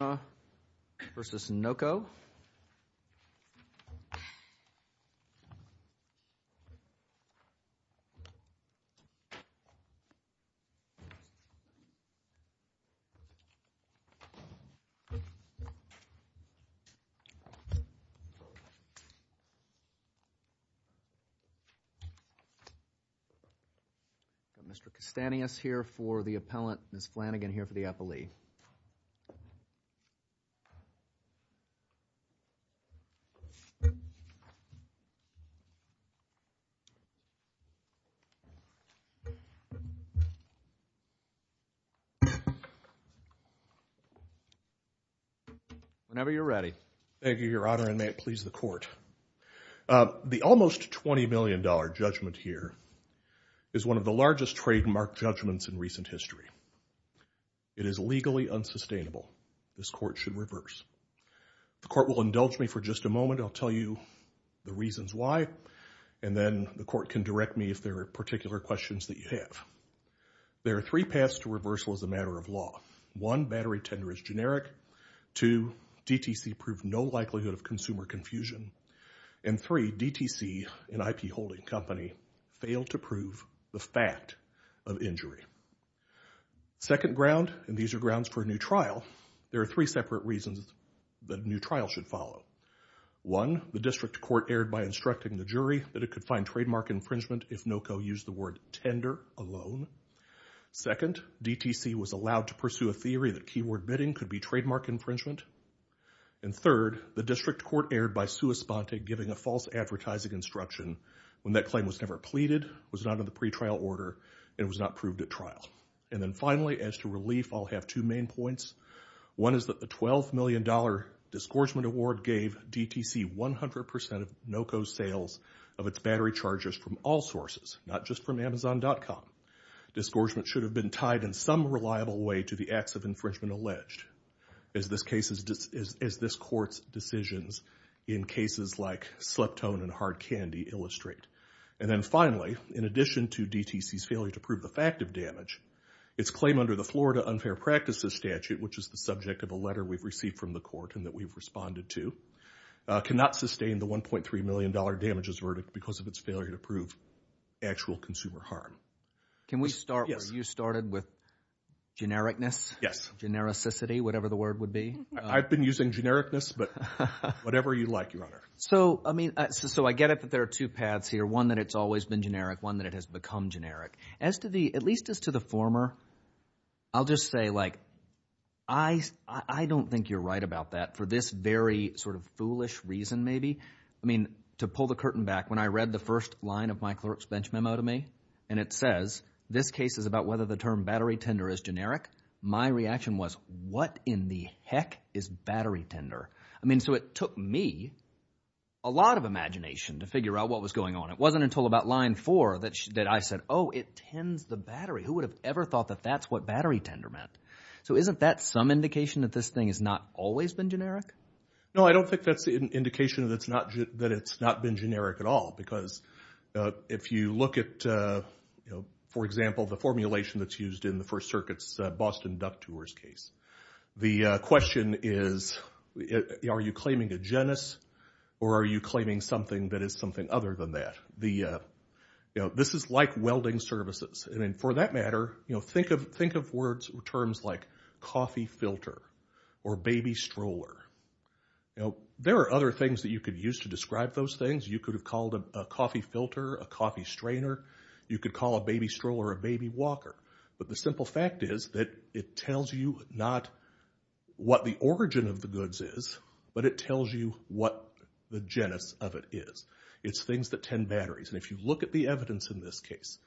Mr. Castanis here for the appellant, Ms. Flanagan here for the appellee. Whenever you're ready. Thank you, Your Honor, and may it please the court. The almost $20 million judgment here is one of the largest trademark judgments in recent history. It is legally unsustainable. This court should reverse. The court will indulge me for just a moment. I'll tell you the reasons why, and then the court can direct me if there are particular questions that you have. There are three paths to reversal as a matter of law. One, battery tender is generic. Two, DTC proved no likelihood of consumer confusion. And three, DTC, an IP holding company, failed to prove the fact of injury. Second ground, and these are grounds for a new trial, there are three separate reasons that a new trial should follow. One, the district court erred by instructing the jury that it could find trademark infringement if Noco used the word tender alone. Second, DTC was allowed to pursue a theory that keyword bidding could be trademark infringement. And third, the district court erred by sua sponte giving a false advertising instruction when that claim was never pleaded, was not in the pretrial order, and was not proved at trial. And then finally, as to relief, I'll have two main points. One is that the $12 million Discouragement Award gave DTC 100% of Noco's sales of its battery charges from all sources, not just from Amazon.com. Discouragement should have been tied in some reliable way to the acts of infringement alleged, as this court's decisions in cases like Sleptone and Hard Candy illustrate. And then finally, in addition to DTC's failure to prove the fact of damage, its claim under the Florida Unfair Practices Statute, which is the subject of a letter we've received from the court and that we've responded to, cannot sustain the $1.3 million damages verdict because of its failure to prove actual consumer harm. Can we start where you started with genericness, genericity, whatever the word would be? I've been using genericness, but whatever you like, Your Honor. So I mean – so I get it that there are two paths here, one that it's always been generic, one that it has become generic. As to the – at least as to the former, I'll just say like I don't think you're right about that for this very sort of foolish reason maybe. I mean to pull the curtain back, when I read the first line of my clerk's bench memo to me and it says this case is about whether the term battery tender is generic, my reaction was what in the heck is battery tender? I mean so it took me a lot of imagination to figure out what was going on. It wasn't until about line four that I said, oh, it tends the battery. Who would have ever thought that that's what battery tender meant? So isn't that some indication that this thing has not always been generic? No, I don't think that's an indication that it's not been generic at all because if you look at, for example, the formulation that's used in the First Circuit's Boston Duck Tours case. The question is are you claiming a genus or are you claiming something that is something other than that? This is like welding services. I mean for that matter, think of words or terms like coffee filter or baby stroller. There are other things that you could use to describe those things. You could have called a coffee filter, a coffee strainer. You could call a baby stroller a baby walker. But the simple fact is that it tells you not what the origin of the goods is, but it tells you what the genus of it is. It's things that tend batteries. And if you look at the evidence in this case,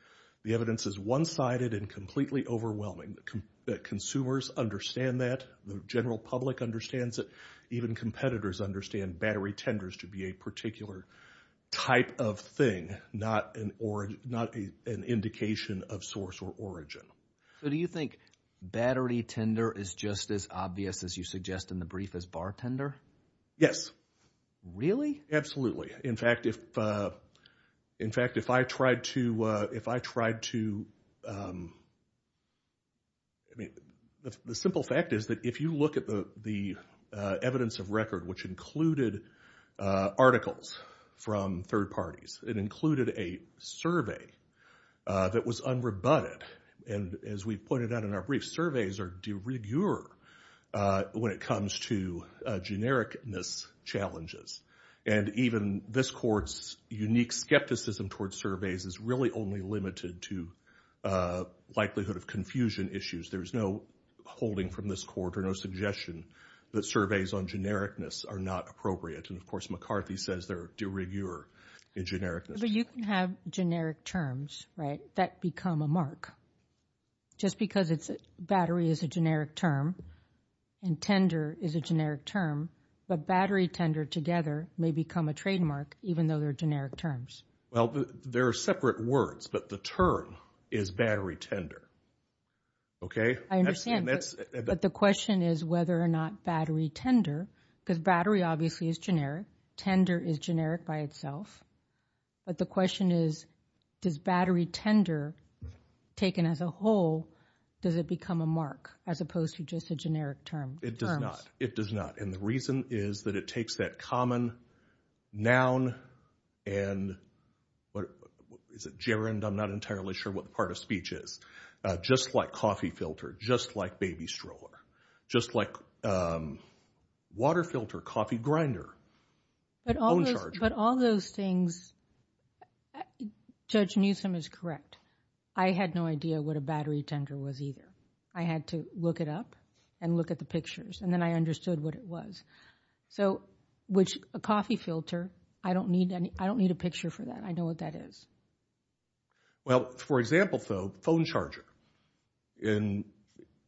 the evidence is one-sided and completely overwhelming. Consumers understand that. The general public understands it. Even competitors understand battery tenders to be a particular type of thing, not an indication of source or origin. So do you think battery tender is just as obvious as you suggest in the brief as bartender? Yes. Really? Absolutely. In fact, if I tried to, I mean the simple fact is that if you look at the evidence of record, which included articles from third parties, it included a survey that was unrebutted. And as we pointed out in our brief, surveys are de rigueur when it comes to generic-ness challenges. And even this court's unique skepticism towards surveys is really only limited to likelihood of confusion issues. There's no holding from this court or no suggestion that surveys on generic-ness are not appropriate. And, of course, McCarthy says they're de rigueur in generic-ness. But you can have generic terms, right, that become a mark just because battery is a generic term and tender is a generic term. But battery tender together may become a trademark even though they're generic terms. Well, they're separate words, but the term is battery tender. I understand. But the question is whether or not battery tender, because battery obviously is generic. Tender is generic by itself. But the question is, does battery tender taken as a whole, does it become a mark as opposed to just a generic term? It does not. It does not. And the reason is that it takes that common noun and is it gerund? I'm not entirely sure what the part of speech is. Just like coffee filter, just like baby stroller, just like water filter, coffee grinder, phone charger. But all those things, Judge Newsom is correct. I had no idea what a battery tender was either. I had to look it up and look at the pictures, and then I understood what it was. So a coffee filter, I don't need a picture for that. I know what that is. Well, for example, though, phone charger. And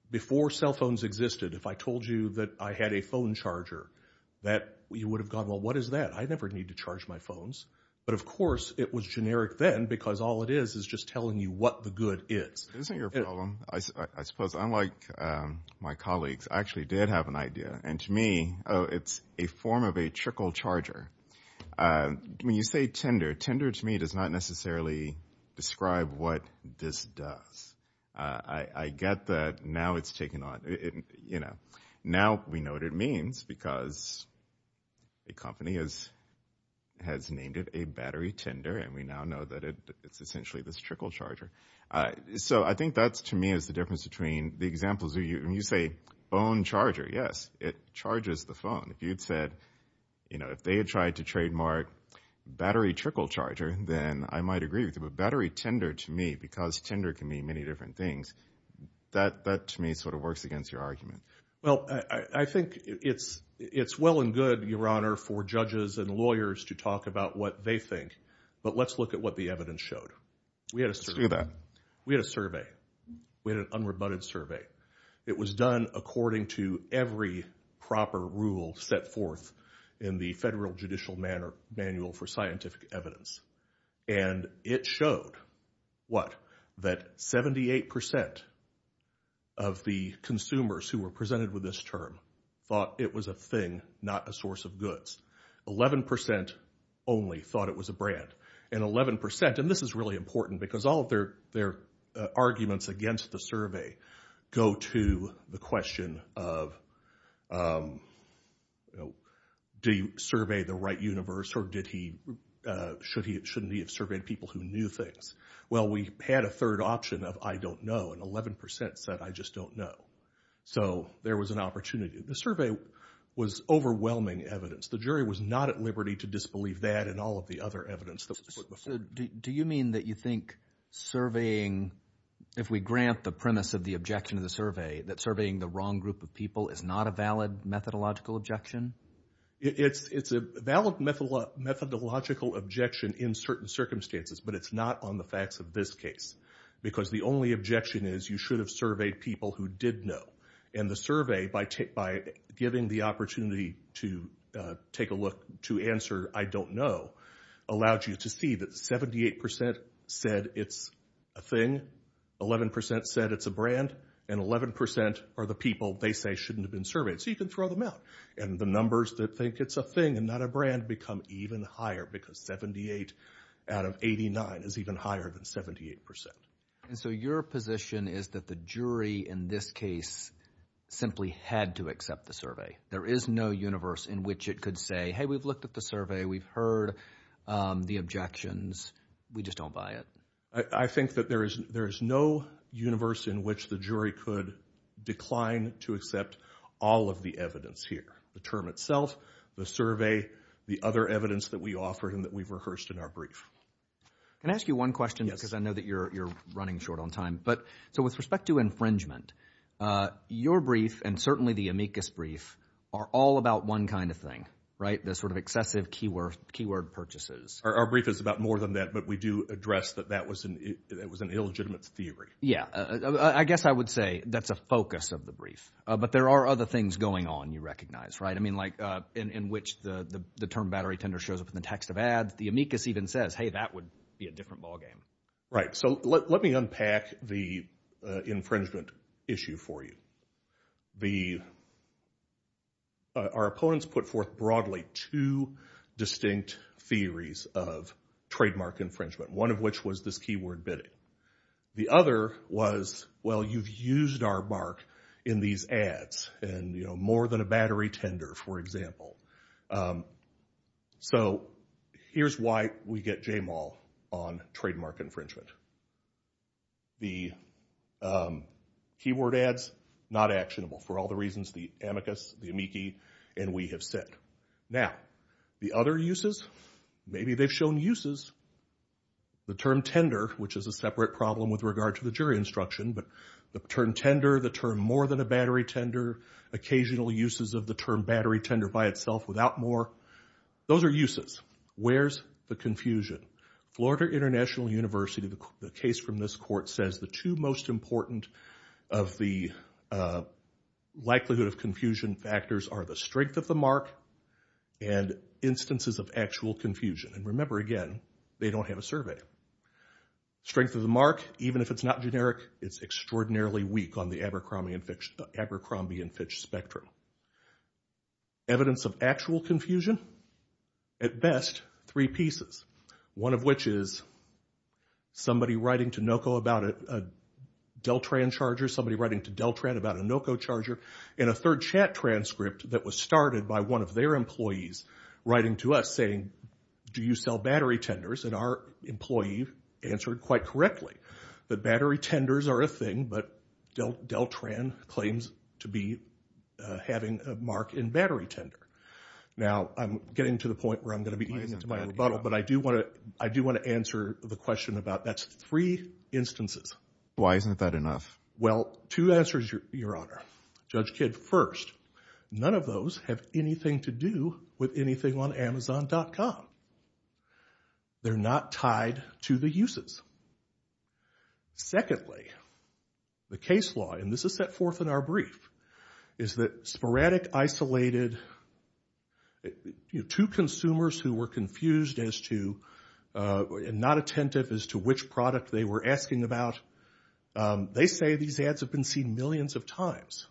before cell phones existed, if I told you that I had a phone charger, you would have gone, well, what is that? I never need to charge my phones. But, of course, it was generic then because all it is is just telling you what the good is. Isn't your problem, I suppose, unlike my colleagues, I actually did have an idea. And to me, it's a form of a trickle charger. When you say tender, tender to me does not necessarily describe what this does. I get that now it's taken on. Now we know what it means because a company has named it a battery tender, and we now know that it's essentially this trickle charger. So I think that, to me, is the difference between the examples. When you say phone charger, yes, it charges the phone. If you had said, you know, if they had tried to trademark battery trickle charger, then I might agree with you, but battery tender to me, because tender can mean many different things, that to me sort of works against your argument. Well, I think it's well and good, Your Honor, for judges and lawyers to talk about what they think, but let's look at what the evidence showed. Let's do that. We had a survey. We had an unrebutted survey. It was done according to every proper rule set forth in the Federal Judicial Manual for Scientific Evidence. And it showed what? That 78% of the consumers who were presented with this term thought it was a thing, not a source of goods. 11% only thought it was a brand. And 11%, and this is really important, because all of their arguments against the survey go to the question of, do you survey the right universe or shouldn't he have surveyed people who knew things? Well, we had a third option of I don't know, and 11% said I just don't know. So there was an opportunity. The survey was overwhelming evidence. The jury was not at liberty to disbelieve that and all of the other evidence. Do you mean that you think surveying, if we grant the premise of the objection of the survey, that surveying the wrong group of people is not a valid methodological objection? It's a valid methodological objection in certain circumstances, but it's not on the facts of this case, because the only objection is you should have surveyed people who did know. And the survey, by giving the opportunity to take a look to answer I don't know, allowed you to see that 78% said it's a thing, 11% said it's a brand, and 11% are the people they say shouldn't have been surveyed. So you can throw them out. And the numbers that think it's a thing and not a brand become even higher, because 78 out of 89 is even higher than 78%. And so your position is that the jury in this case simply had to accept the survey. There is no universe in which it could say, hey, we've looked at the survey. We've heard the objections. We just don't buy it. I think that there is no universe in which the jury could decline to accept all of the evidence here, the term itself, the survey, the other evidence that we offered and that we've rehearsed in our brief. Can I ask you one question? Because I know that you're running short on time. So with respect to infringement, your brief and certainly the amicus brief are all about one kind of thing, right, the sort of excessive keyword purchases. Our brief is about more than that, but we do address that that was an illegitimate theory. Yeah. I guess I would say that's a focus of the brief. But there are other things going on, you recognize, right? I mean like in which the term battery tender shows up in the text of ads. The amicus even says, hey, that would be a different ballgame. Right. So let me unpack the infringement issue for you. Our opponents put forth broadly two distinct theories of trademark infringement, one of which was this keyword bidding. The other was, well, you've used our mark in these ads and more than a battery tender, for example. So here's why we get J-Mal on trademark infringement. The keyword ads, not actionable for all the reasons the amicus, the amici, and we have said. Now, the other uses, maybe they've shown uses. The term tender, which is a separate problem with regard to the jury instruction, but the term tender, the term more than a battery tender, occasional uses of the term battery tender by itself without more. Those are uses. Where's the confusion? Florida International University, the case from this court says the two most important of the likelihood of confusion factors are the strength of the mark and instances of actual confusion. And remember, again, they don't have a survey. Strength of the mark, even if it's not generic, it's extraordinarily weak on the Abercrombie and Fitch spectrum. Evidence of actual confusion? At best, three pieces, one of which is somebody writing to NOCO about a Deltran charger, somebody writing to Deltran about a NOCO charger, and a third chat transcript that was started by one of their employees writing to us saying, do you sell battery tenders? And our employee answered quite correctly that battery tenders are a thing, but Deltran claims to be having a mark in battery tender. Now, I'm getting to the point where I'm going to be eating into my rebuttal, but I do want to answer the question about that's three instances. Why isn't that enough? Well, two answers, Your Honor. Judge Kidd, first, none of those have anything to do with anything on Amazon.com. They're not tied to the uses. Secondly, the case law, and this is set forth in our brief, is that sporadic, isolated, two consumers who were confused as to, and not attentive as to which product they were asking about, they say these ads have been seen millions of times.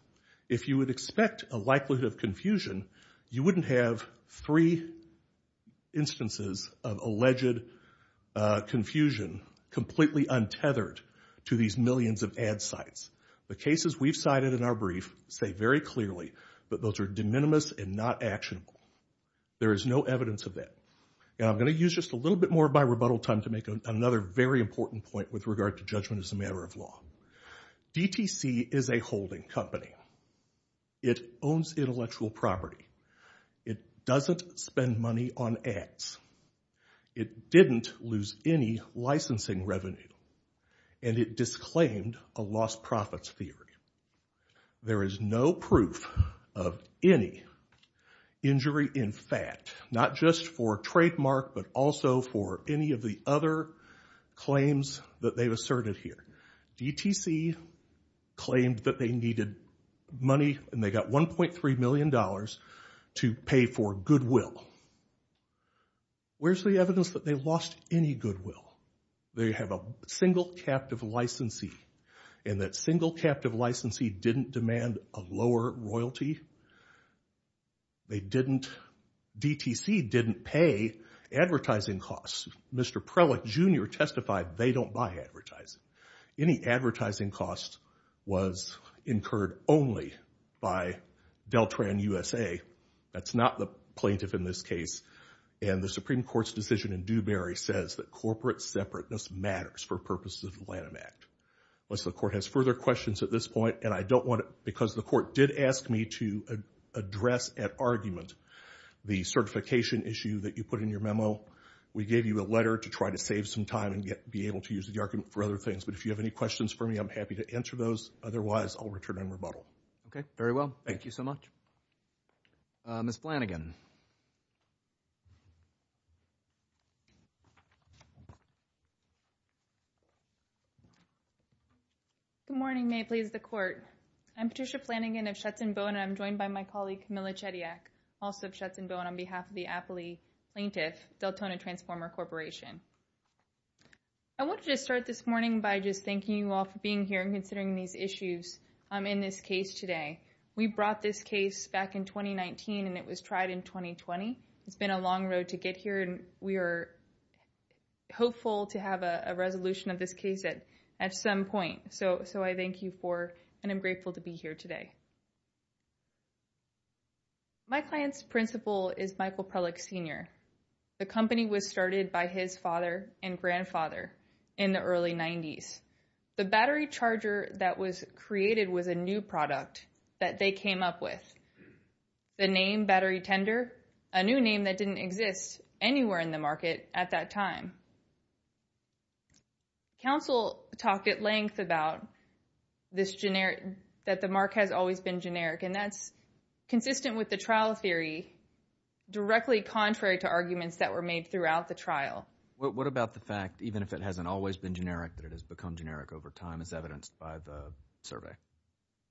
If you would expect a likelihood of confusion, you wouldn't have three instances of alleged confusion completely untethered to these millions of ad sites. The cases we've cited in our brief say very clearly that those are de minimis and not actionable. There is no evidence of that. Now, I'm going to use just a little bit more of my rebuttal time to make another very important point with regard to judgment as a matter of law. DTC is a holding company. It owns intellectual property. It doesn't spend money on ads. It didn't lose any licensing revenue, and it disclaimed a lost profits theory. There is no proof of any injury in fact, not just for trademark, but also for any of the other claims that they've asserted here. DTC claimed that they needed money, and they got $1.3 million to pay for goodwill. Where's the evidence that they lost any goodwill? They have a single captive licensee, and that single captive licensee didn't demand a lower royalty. DTC didn't pay advertising costs. Mr. Prellick Jr. testified they don't buy advertising. Any advertising cost was incurred only by Deltran USA. That's not the plaintiff in this case, and the Supreme Court's decision in Dewberry says that corporate separateness matters for purposes of the Lanham Act. Unless the court has further questions at this point, and I don't want to because the court did ask me to address at argument the certification issue that you put in your memo. We gave you a letter to try to save some time and be able to use the argument for other things, but if you have any questions for me, I'm happy to answer those. Otherwise, I'll return and rebuttal. Okay, very well. Thank you so much. Ms. Flanagan. Good morning. May it please the court. I'm Patricia Flanagan of Schutzen Bone, and I'm joined by my colleague Camilla Chediak, also of Schutzen Bone, on behalf of the Appley Plaintiff, Deltona Transformer Corporation. I wanted to start this morning by just thanking you all for being here and considering these issues in this case today. We brought this case back in 2019, and it was tried in 2020. It's been a long road to get here, and we are hopeful to have a resolution of this case at some point. So I thank you for, and I'm grateful to be here today. My client's principal is Michael Prelick Sr. The company was started by his father and grandfather in the early 90s. The battery charger that was created was a new product that they came up with. The name battery tender, a new name that didn't exist anywhere in the market at that time. Counsel talked at length about this generic, that the mark has always been generic, and that's consistent with the trial theory directly contrary to arguments that were made throughout the trial. What about the fact, even if it hasn't always been generic, that it has become generic over time as evidenced by the survey?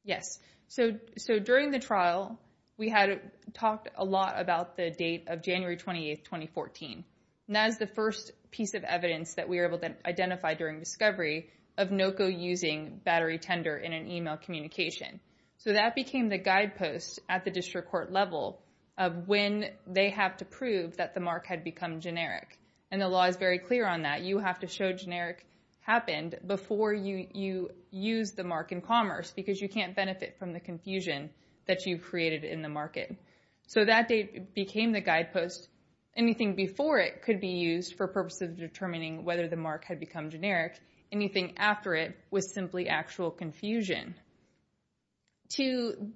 Yes. So during the trial, we had talked a lot about the date of January 28, 2014. And that is the first piece of evidence that we were able to identify during discovery of NOCO using battery tender in an email communication. So that became the guidepost at the district court level of when they have to prove that the mark had become generic. And the law is very clear on that. You have to show generic happened before you use the mark in commerce because you can't benefit from the confusion that you've created in the market. So that date became the guidepost. Anything before it could be used for purposes of determining whether the mark had become generic. Anything after it was simply actual confusion. To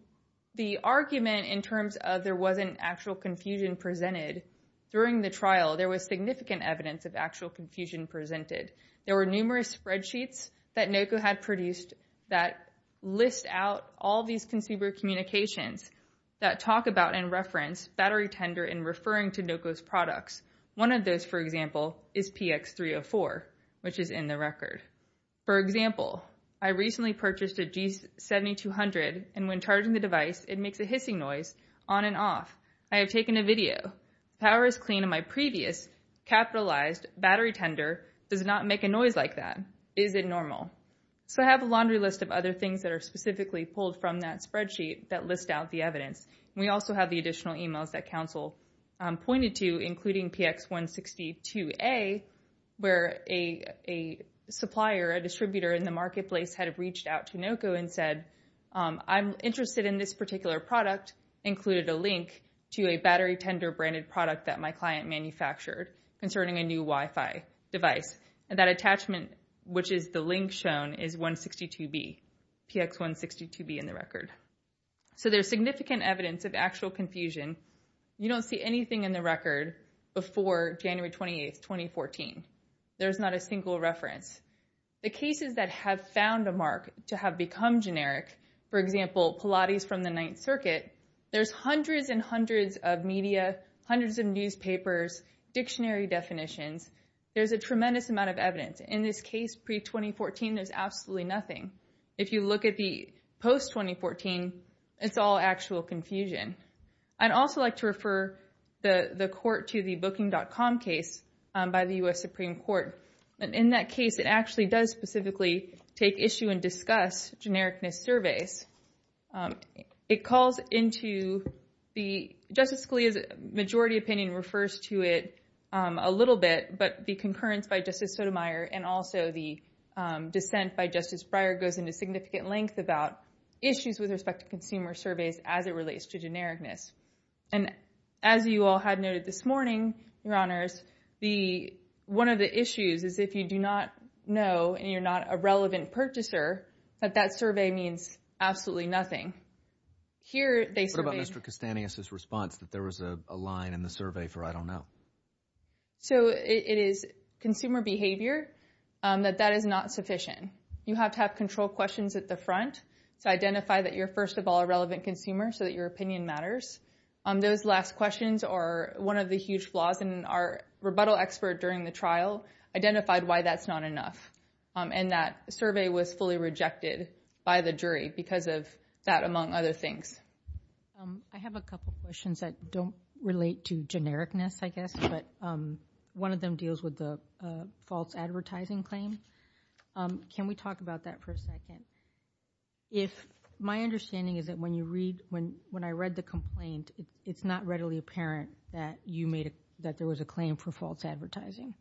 the argument in terms of there wasn't actual confusion presented during the trial, there was significant evidence of actual confusion presented. There were numerous spreadsheets that NOCO had produced that list out all these consumer communications that talk about and reference battery tender in referring to NOCO's products. One of those, for example, is PX304, which is in the record. For example, I recently purchased a G7200, and when charging the device, it makes a hissing noise on and off. I have taken a video. The power is clean, and my previous capitalized battery tender does not make a noise like that. Is it normal? So I have a laundry list of other things that are specifically pulled from that spreadsheet that list out the evidence. We also have the additional emails that counsel pointed to, including PX162A, where a supplier, a distributor in the marketplace had reached out to NOCO and said, I'm interested in this particular product, included a link to a battery tender branded product that my client manufactured concerning a new Wi-Fi device. And that attachment, which is the link shown, is 162B, PX162B in the record. So there's significant evidence of actual confusion. You don't see anything in the record before January 28, 2014. There's not a single reference. The cases that have found a mark to have become generic, for example, Pilates from the Ninth Circuit, there's hundreds and hundreds of media, hundreds of newspapers, dictionary definitions. There's a tremendous amount of evidence. In this case pre-2014, there's absolutely nothing. If you look at the post-2014, it's all actual confusion. I'd also like to refer the court to the booking.com case by the U.S. Supreme Court. In that case, it actually does specifically take issue and discuss genericness surveys. It calls into the Justice Scalia's majority opinion refers to it a little bit, but the concurrence by Justice Sotomayor and also the dissent by Justice Breyer goes into significant length about issues with respect to consumer surveys as it relates to genericness. As you all had noted this morning, Your Honors, one of the issues is if you do not know and you're not a relevant purchaser, that that survey means absolutely nothing. What about Mr. Castaneda's response that there was a line in the survey for I don't know? So it is consumer behavior that that is not sufficient. You have to have control questions at the front to identify that you're first of all a relevant consumer so that your opinion matters. Those last questions are one of the huge flaws, and our rebuttal expert during the trial identified why that's not enough. And that survey was fully rejected by the jury because of that, among other things. I have a couple questions that don't relate to genericness, I guess, but one of them deals with the false advertising claim. Can we talk about that for a second? My understanding is that when I read the complaint, it's not readily apparent that there was a claim for false advertising.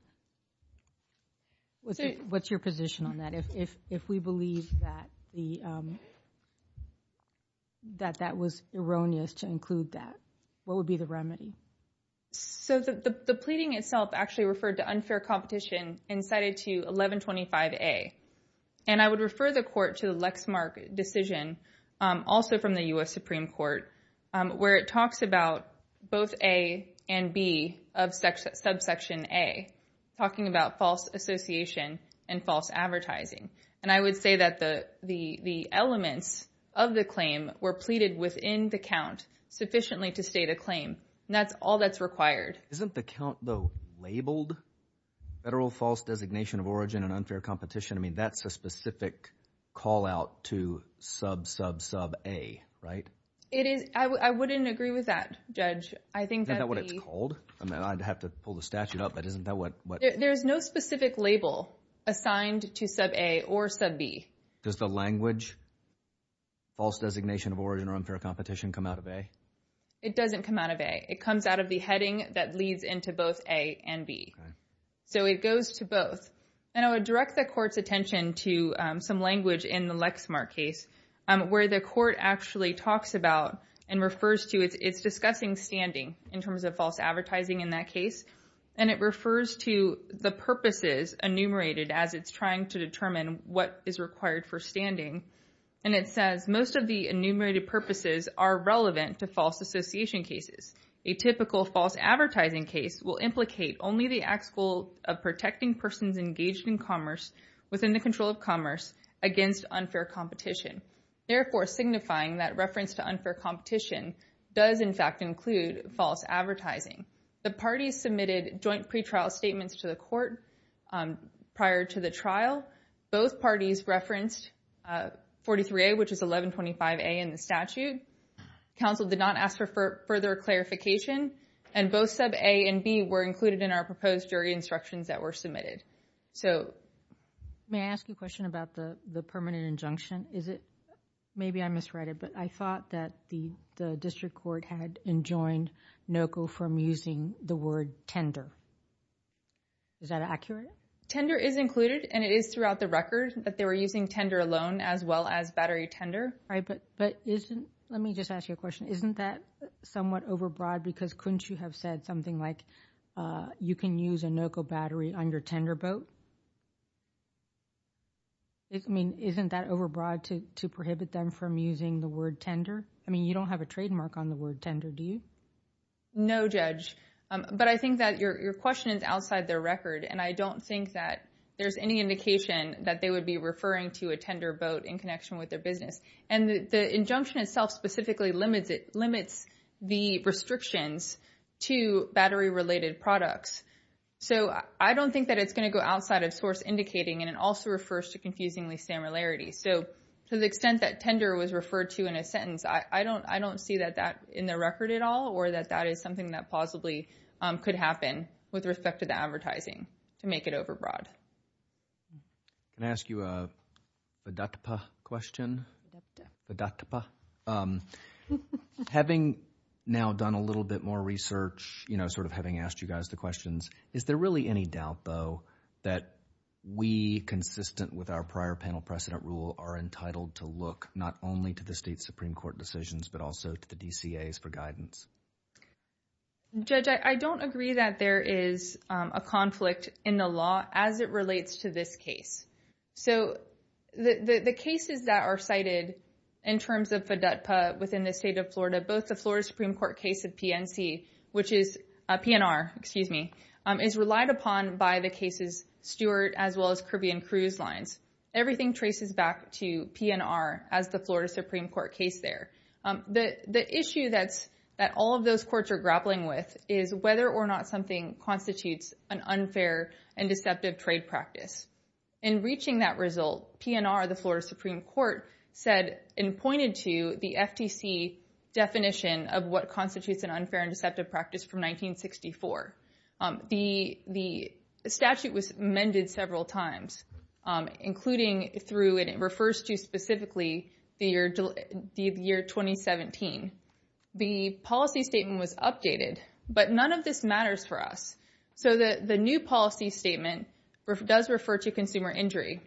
What's your position on that? If we believe that that was erroneous to include that, what would be the remedy? So the pleading itself actually referred to unfair competition and cited to 1125A. And I would refer the court to the Lexmark decision, also from the U.S. Supreme Court, where it talks about both A and B of subsection A, talking about false association and false advertising. And I would say that the elements of the claim were pleaded within the count sufficiently to state a claim. And that's all that's required. Isn't the count, though, labeled federal false designation of origin and unfair competition? I mean, that's a specific call out to sub, sub, sub A, right? I wouldn't agree with that, Judge. Isn't that what it's called? I'd have to pull the statute up, but isn't that what— There's no specific label assigned to sub A or sub B. Does the language false designation of origin or unfair competition come out of A? It doesn't come out of A. It comes out of the heading that leads into both A and B. So it goes to both. And I would direct the court's attention to some language in the Lexmark case where the court actually talks about and refers to—it's discussing standing in terms of false advertising in that case. And it refers to the purposes enumerated as it's trying to determine what is required for standing. And it says most of the enumerated purposes are relevant to false association cases. A typical false advertising case will implicate only the act's goal of protecting persons engaged in commerce within the control of commerce against unfair competition, therefore signifying that reference to unfair competition does, in fact, include false advertising. The parties submitted joint pretrial statements to the court prior to the trial. Both parties referenced 43A, which is 1125A in the statute. Counsel did not ask for further clarification. And both sub A and B were included in our proposed jury instructions that were submitted. So— May I ask you a question about the permanent injunction? Is it—maybe I misread it, but I thought that the district court had enjoined NOCO from using the word tender. Is that accurate? Tender is included, and it is throughout the record that they were using tender alone as well as battery tender. But isn't—let me just ask you a question. Isn't that somewhat overbroad because couldn't you have said something like you can use a NOCO battery on your tender boat? I mean, isn't that overbroad to prohibit them from using the word tender? I mean, you don't have a trademark on the word tender, do you? No, Judge. But I think that your question is outside their record, and I don't think that there's any indication that they would be referring to a tender boat in connection with their business. And the injunction itself specifically limits the restrictions to battery-related products. So I don't think that it's going to go outside of source indicating, and it also refers to confusingly similarity. So to the extent that tender was referred to in a sentence, I don't see that in their record at all or that that is something that possibly could happen with respect to the advertising to make it overbroad. Can I ask you a VDOTPA question? VDOTPA. Having now done a little bit more research, you know, sort of having asked you guys the questions, is there really any doubt, though, that we, consistent with our prior panel precedent rule, are entitled to look not only to the state Supreme Court decisions but also to the DCAs for guidance? Judge, I don't agree that there is a conflict in the law as it relates to this case. So the cases that are cited in terms of VDOTPA within the state of Florida, both the Florida Supreme Court case of PNC, which is PNR, excuse me, is relied upon by the cases Stewart as well as Caribbean Cruise Lines. Everything traces back to PNR as the Florida Supreme Court case there. The issue that all of those courts are grappling with is whether or not something constitutes an unfair and deceptive trade practice. In reaching that result, PNR, the Florida Supreme Court, said and pointed to the FTC definition of what constitutes an unfair and deceptive practice from 1964. The statute was amended several times, including through, and it refers to specifically, the year 2017. The policy statement was updated, but none of this matters for us. So the new policy statement does refer to consumer injury,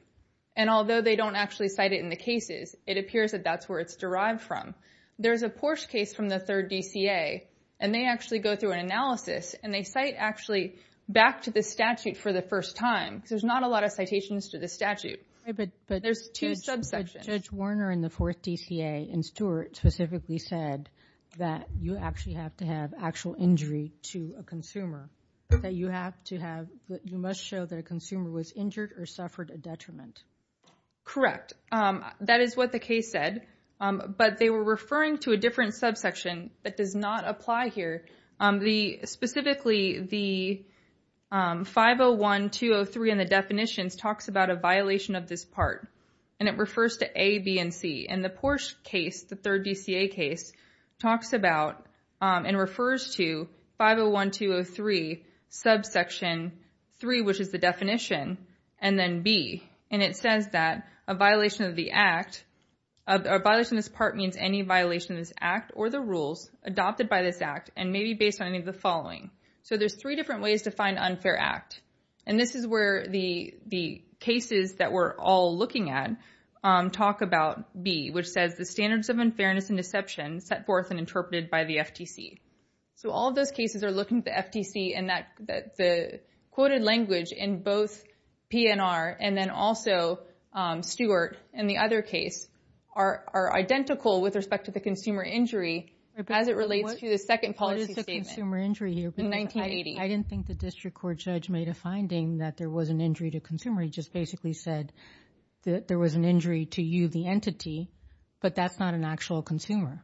and although they don't actually cite it in the cases, it appears that that's where it's derived from. There's a Porsche case from the third DCA, and they actually go through an analysis, and they cite actually back to the statute for the first time. There's not a lot of citations to the statute. There's two subsections. But Judge Warner in the fourth DCA and Stewart specifically said that you actually have to have actual injury to a consumer, that you have to have, you must show that a consumer was injured or suffered a detriment. Correct. That is what the case said, but they were referring to a different subsection that does not apply here. Specifically, the 501203 in the definitions talks about a violation of this part, and it refers to A, B, and C. And the Porsche case, the third DCA case, talks about and refers to 501203 subsection 3, which is the definition, and then B. And it says that a violation of the act, a violation of this part means any violation of this act or the rules adopted by this act and may be based on any of the following. So there's three different ways to find unfair act. And this is where the cases that we're all looking at talk about B, which says the standards of unfairness and deception set forth and interpreted by the FTC. So all of those cases are looking at the FTC and the quoted language in both PNR and then also Stewart and the other case are identical with respect to the consumer injury as it relates to the second policy statement. What is the consumer injury here? In 1980. I didn't think the district court judge made a finding that there was an injury to a consumer. He just basically said that there was an injury to you, the entity, but that's not an actual consumer.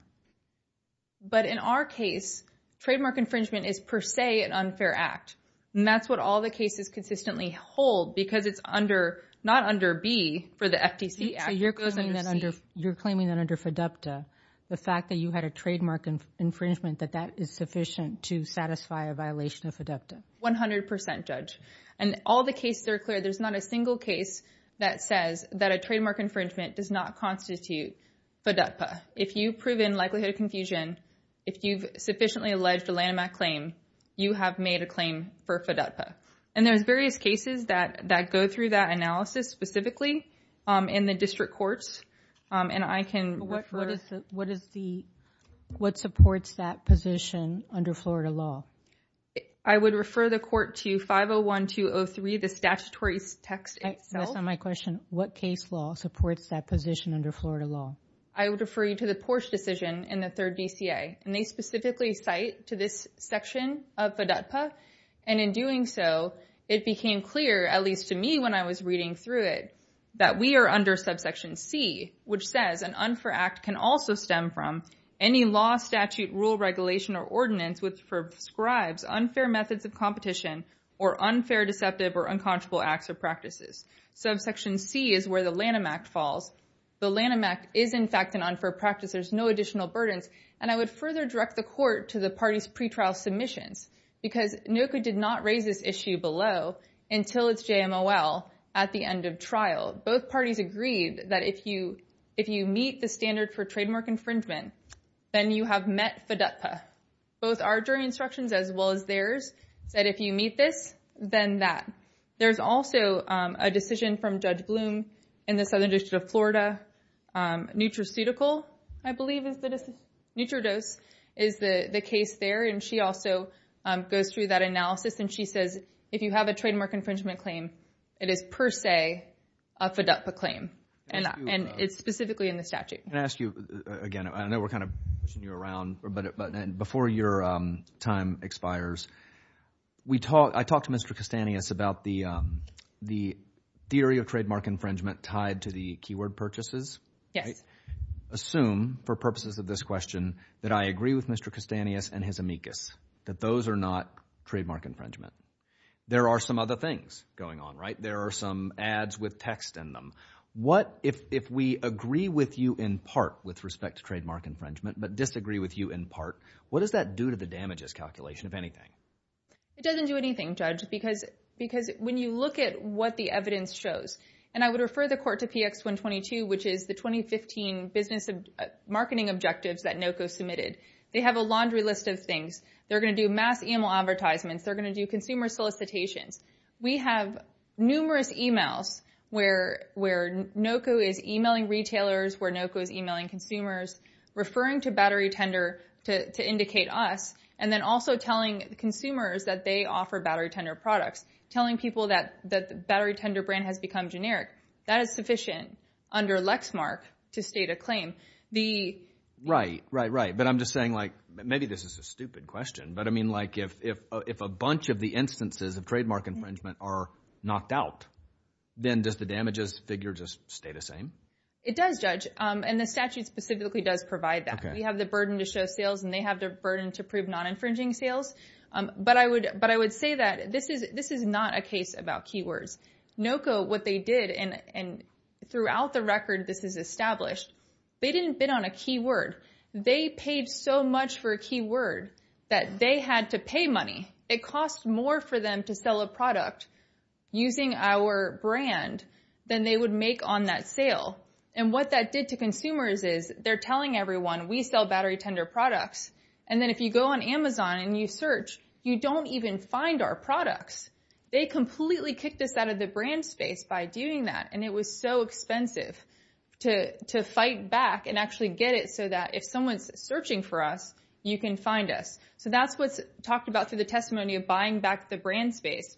But in our case, trademark infringement is per se an unfair act. And that's what all the cases consistently hold because it's not under B for the FTC. So you're claiming that under FDUPTA, the fact that you had a trademark infringement, that that is sufficient to satisfy a violation of FDUPTA? 100% judge. And all the cases are clear. There's not a single case that says that a trademark infringement does not constitute FDUPTA. If you've proven likelihood of confusion, if you've sufficiently alleged a Lanham Act claim, you have made a claim for FDUPTA. And there's various cases that go through that analysis specifically in the district courts, and I can refer. What supports that position under Florida law? I would refer the court to 501203, the statutory text itself. That's not my question. What case law supports that position under Florida law? I would refer you to the Porsche decision in the third DCA, and they specifically cite to this section of FDUPTA. And in doing so, it became clear, at least to me when I was reading through it, that we are under subsection C, which says an unfair act can also stem from any law, statute, rule, regulation, or ordinance which prescribes unfair methods of competition or unfair, deceptive, or unconscionable acts or practices. Subsection C is where the Lanham Act falls. The Lanham Act is, in fact, an unfair practice. There's no additional burdens. And I would further direct the court to the party's pretrial submissions, because NOCA did not raise this issue below until its JMOL at the end of trial. Both parties agreed that if you meet the standard for trademark infringement, then you have met FDUPTA. Both our jury instructions, as well as theirs, said if you meet this, then that. There's also a decision from Judge Bloom in the Southern District of Florida. Nutraceutical, I believe, is the case there, and she also goes through that analysis, and she says if you have a trademark infringement claim, it is per se a FDUPTA claim. And it's specifically in the statute. Can I ask you again? I know we're kind of pushing you around, but before your time expires, I talked to Mr. Castanis about the theory of trademark infringement tied to the keyword purchases. Yes. Assume, for purposes of this question, that I agree with Mr. Castanis and his amicus, that those are not trademark infringement. There are some other things going on, right? There are some ads with text in them. What if we agree with you in part with respect to trademark infringement but disagree with you in part? What does that do to the damages calculation, if anything? It doesn't do anything, Judge, because when you look at what the evidence shows, and I would refer the court to PX 122, which is the 2015 business marketing objectives that NOCO submitted. They have a laundry list of things. They're going to do mass e-mail advertisements. They're going to do consumer solicitations. We have numerous e-mails where NOCO is e-mailing retailers, where NOCO is e-mailing consumers, referring to Battery Tender to indicate us, and then also telling consumers that they offer Battery Tender products, telling people that the Battery Tender brand has become generic. That is sufficient under Lexmark to state a claim. Right, right, right, but I'm just saying, like, maybe this is a stupid question, but, I mean, like if a bunch of the instances of trademark infringement are knocked out, then does the damages figure just stay the same? It does, Judge, and the statute specifically does provide that. We have the burden to show sales, and they have the burden to prove non-infringing sales. But I would say that this is not a case about keywords. NOCO, what they did, and throughout the record this is established, they didn't bid on a keyword. They paid so much for a keyword that they had to pay money. It costs more for them to sell a product using our brand than they would make on that sale. And what that did to consumers is they're telling everyone, we sell Battery Tender products, and then if you go on Amazon and you search, you don't even find our products. They completely kicked us out of the brand space by doing that, and it was so expensive to fight back and actually get it so that if someone's searching for us, you can find us. So that's what's talked about through the testimony of buying back the brand space,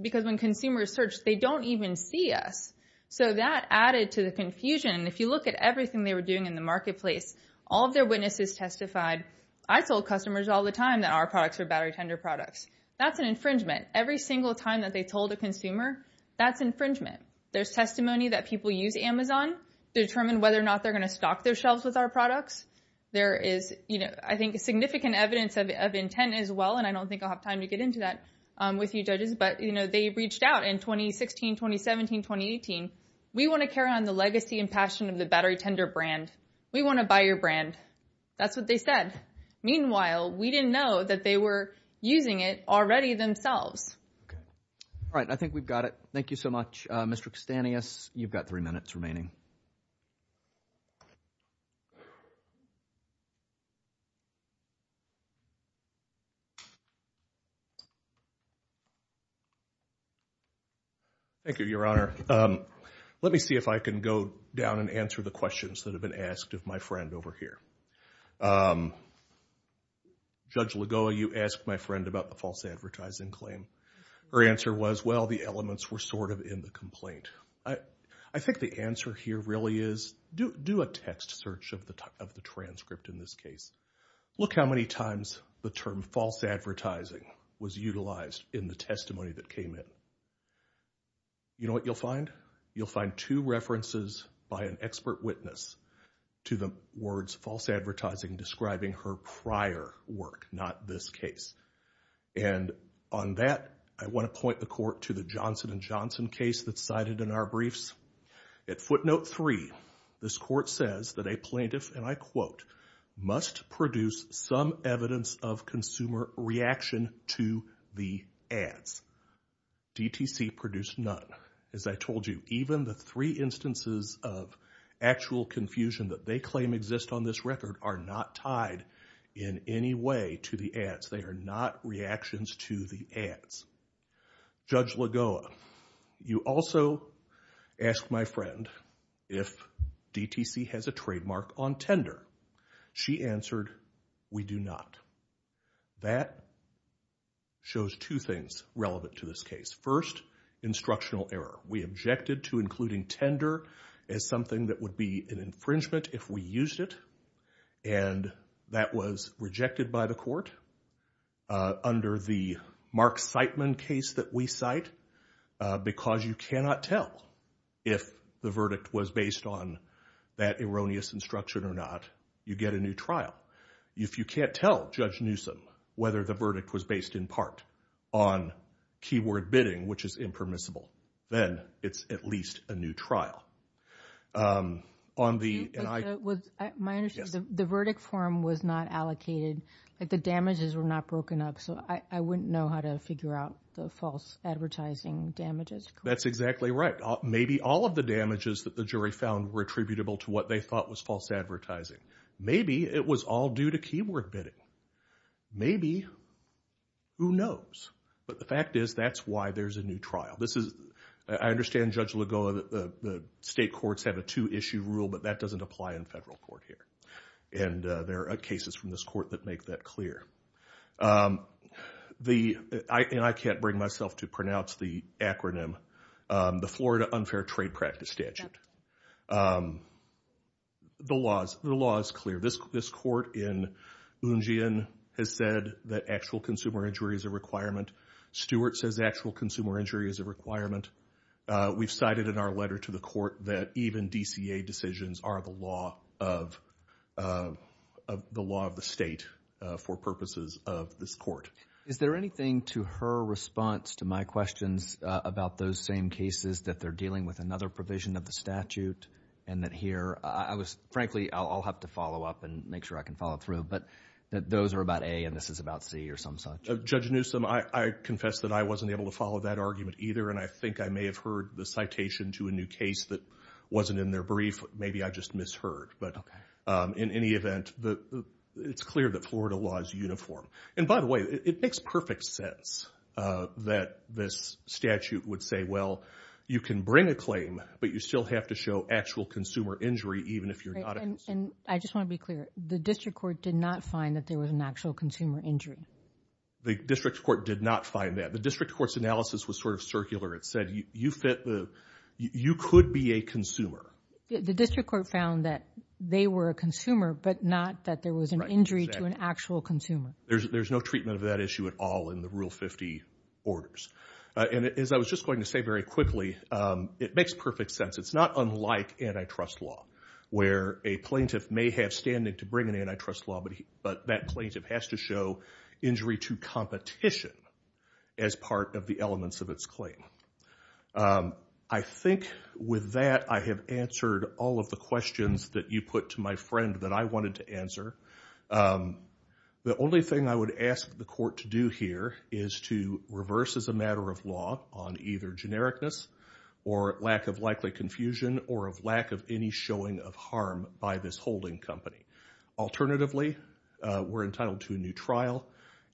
because when consumers search, they don't even see us. So that added to the confusion. And if you look at everything they were doing in the marketplace, all of their witnesses testified, I told customers all the time that our products are Battery Tender products. That's an infringement. Every single time that they told a consumer, that's infringement. There's testimony that people use Amazon to determine whether or not they're going to stock their shelves with our products. There is, I think, significant evidence of intent as well, and I don't think I'll have time to get into that with you judges, but they reached out in 2016, 2017, 2018. We want to carry on the legacy and passion of the Battery Tender brand. We want to buy your brand. That's what they said. Meanwhile, we didn't know that they were using it already themselves. All right. I think we've got it. Thank you so much. Mr. Castanis, you've got three minutes remaining. Thank you, Your Honor. Let me see if I can go down and answer the questions that have been asked of my friend over here. Judge Lagoa, you asked my friend about the false advertising claim. Her answer was, well, the elements were sort of in the complaint. I think the answer here really is do a text search of the transcript in this case. Look how many times the term false advertising was utilized in the testimony that came in. You know what you'll find? You'll find two references by an expert witness to the words false advertising describing her prior work, not this case. And on that, I want to point the court to the Johnson & Johnson case that's cited in our briefs. At footnote three, this court says that a plaintiff, and I quote, must produce some evidence of consumer reaction to the ads. DTC produced none. As I told you, even the three instances of actual confusion that they claim exist on this record are not tied in any way to the ads. They are not reactions to the ads. Judge Lagoa, you also asked my friend if DTC has a trademark on Tinder. She answered, we do not. That shows two things relevant to this case. First, instructional error. We objected to including Tinder as something that would be an infringement if we used it, and that was rejected by the court under the Mark Siteman case that we cite, because you cannot tell if the verdict was based on that erroneous instruction or not. You get a new trial. If you can't tell Judge Newsom whether the verdict was based in part on keyword bidding, which is impermissible, then it's at least a new trial. The verdict form was not allocated. The damages were not broken up, so I wouldn't know how to figure out the false advertising damages. That's exactly right. Maybe all of the damages that the jury found were attributable to what they thought was false advertising. Maybe it was all due to keyword bidding. Maybe. Who knows? But the fact is, that's why there's a new trial. I understand Judge Lagoa that the state courts have a two-issue rule, but that doesn't apply in federal court here, and there are cases from this court that make that clear. I can't bring myself to pronounce the acronym, the Florida Unfair Trade Practice Statute. The law is clear. This court in Oonjian has said that actual consumer injury is a requirement. Stewart says actual consumer injury is a requirement. We've cited in our letter to the court that even DCA decisions are the law of the state for purposes of this court. Is there anything to her response to my questions about those same cases, that they're dealing with another provision of the statute, and that here I was, frankly, I'll have to follow up and make sure I can follow through, but that those are about A and this is about C or some such? Judge Newsom, I confess that I wasn't able to follow that argument either, and I think I may have heard the citation to a new case that wasn't in their brief. Maybe I just misheard, but in any event, it's clear that Florida law is uniform. And by the way, it makes perfect sense that this statute would say, well, you can bring a claim, but you still have to show actual consumer injury even if you're not a consumer. I just want to be clear. The district court did not find that there was an actual consumer injury. The district court did not find that. The district court's analysis was sort of circular. It said you could be a consumer. The district court found that they were a consumer, but not that there was an injury to an actual consumer. There's no treatment of that issue at all in the Rule 50 orders. And as I was just going to say very quickly, it makes perfect sense. It's not unlike antitrust law where a plaintiff may have standing to bring an antitrust law, but that plaintiff has to show injury to competition as part of the elements of its claim. I think with that I have answered all of the questions that you put to my friend that I wanted to answer. The only thing I would ask the court to do here is to reverse as a matter of law on either genericness or lack of likely confusion or of lack of any showing of harm by this holding company. Alternatively, we're entitled to a new trial.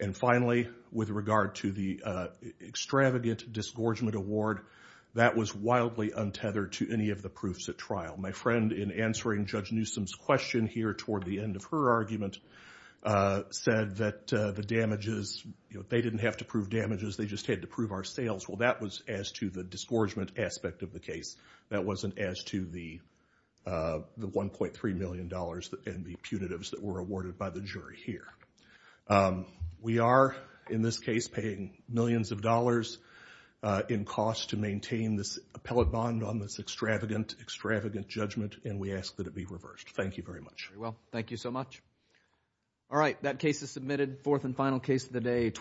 And finally, with regard to the extravagant disgorgement award, that was wildly untethered to any of the proofs at trial. My friend, in answering Judge Newsom's question here toward the end of her argument, said that the damages, they didn't have to prove damages, they just had to prove our sales. Well, that was as to the disgorgement aspect of the case. That wasn't as to the $1.3 million and the punitives that were awarded by the jury here. We are, in this case, paying millions of dollars in cost to maintain this appellate bond on this extravagant, extravagant judgment, and we ask that it be reversed. Thank you very much. Thank you so much. All right, that case is submitted. Fourth and final case of the day.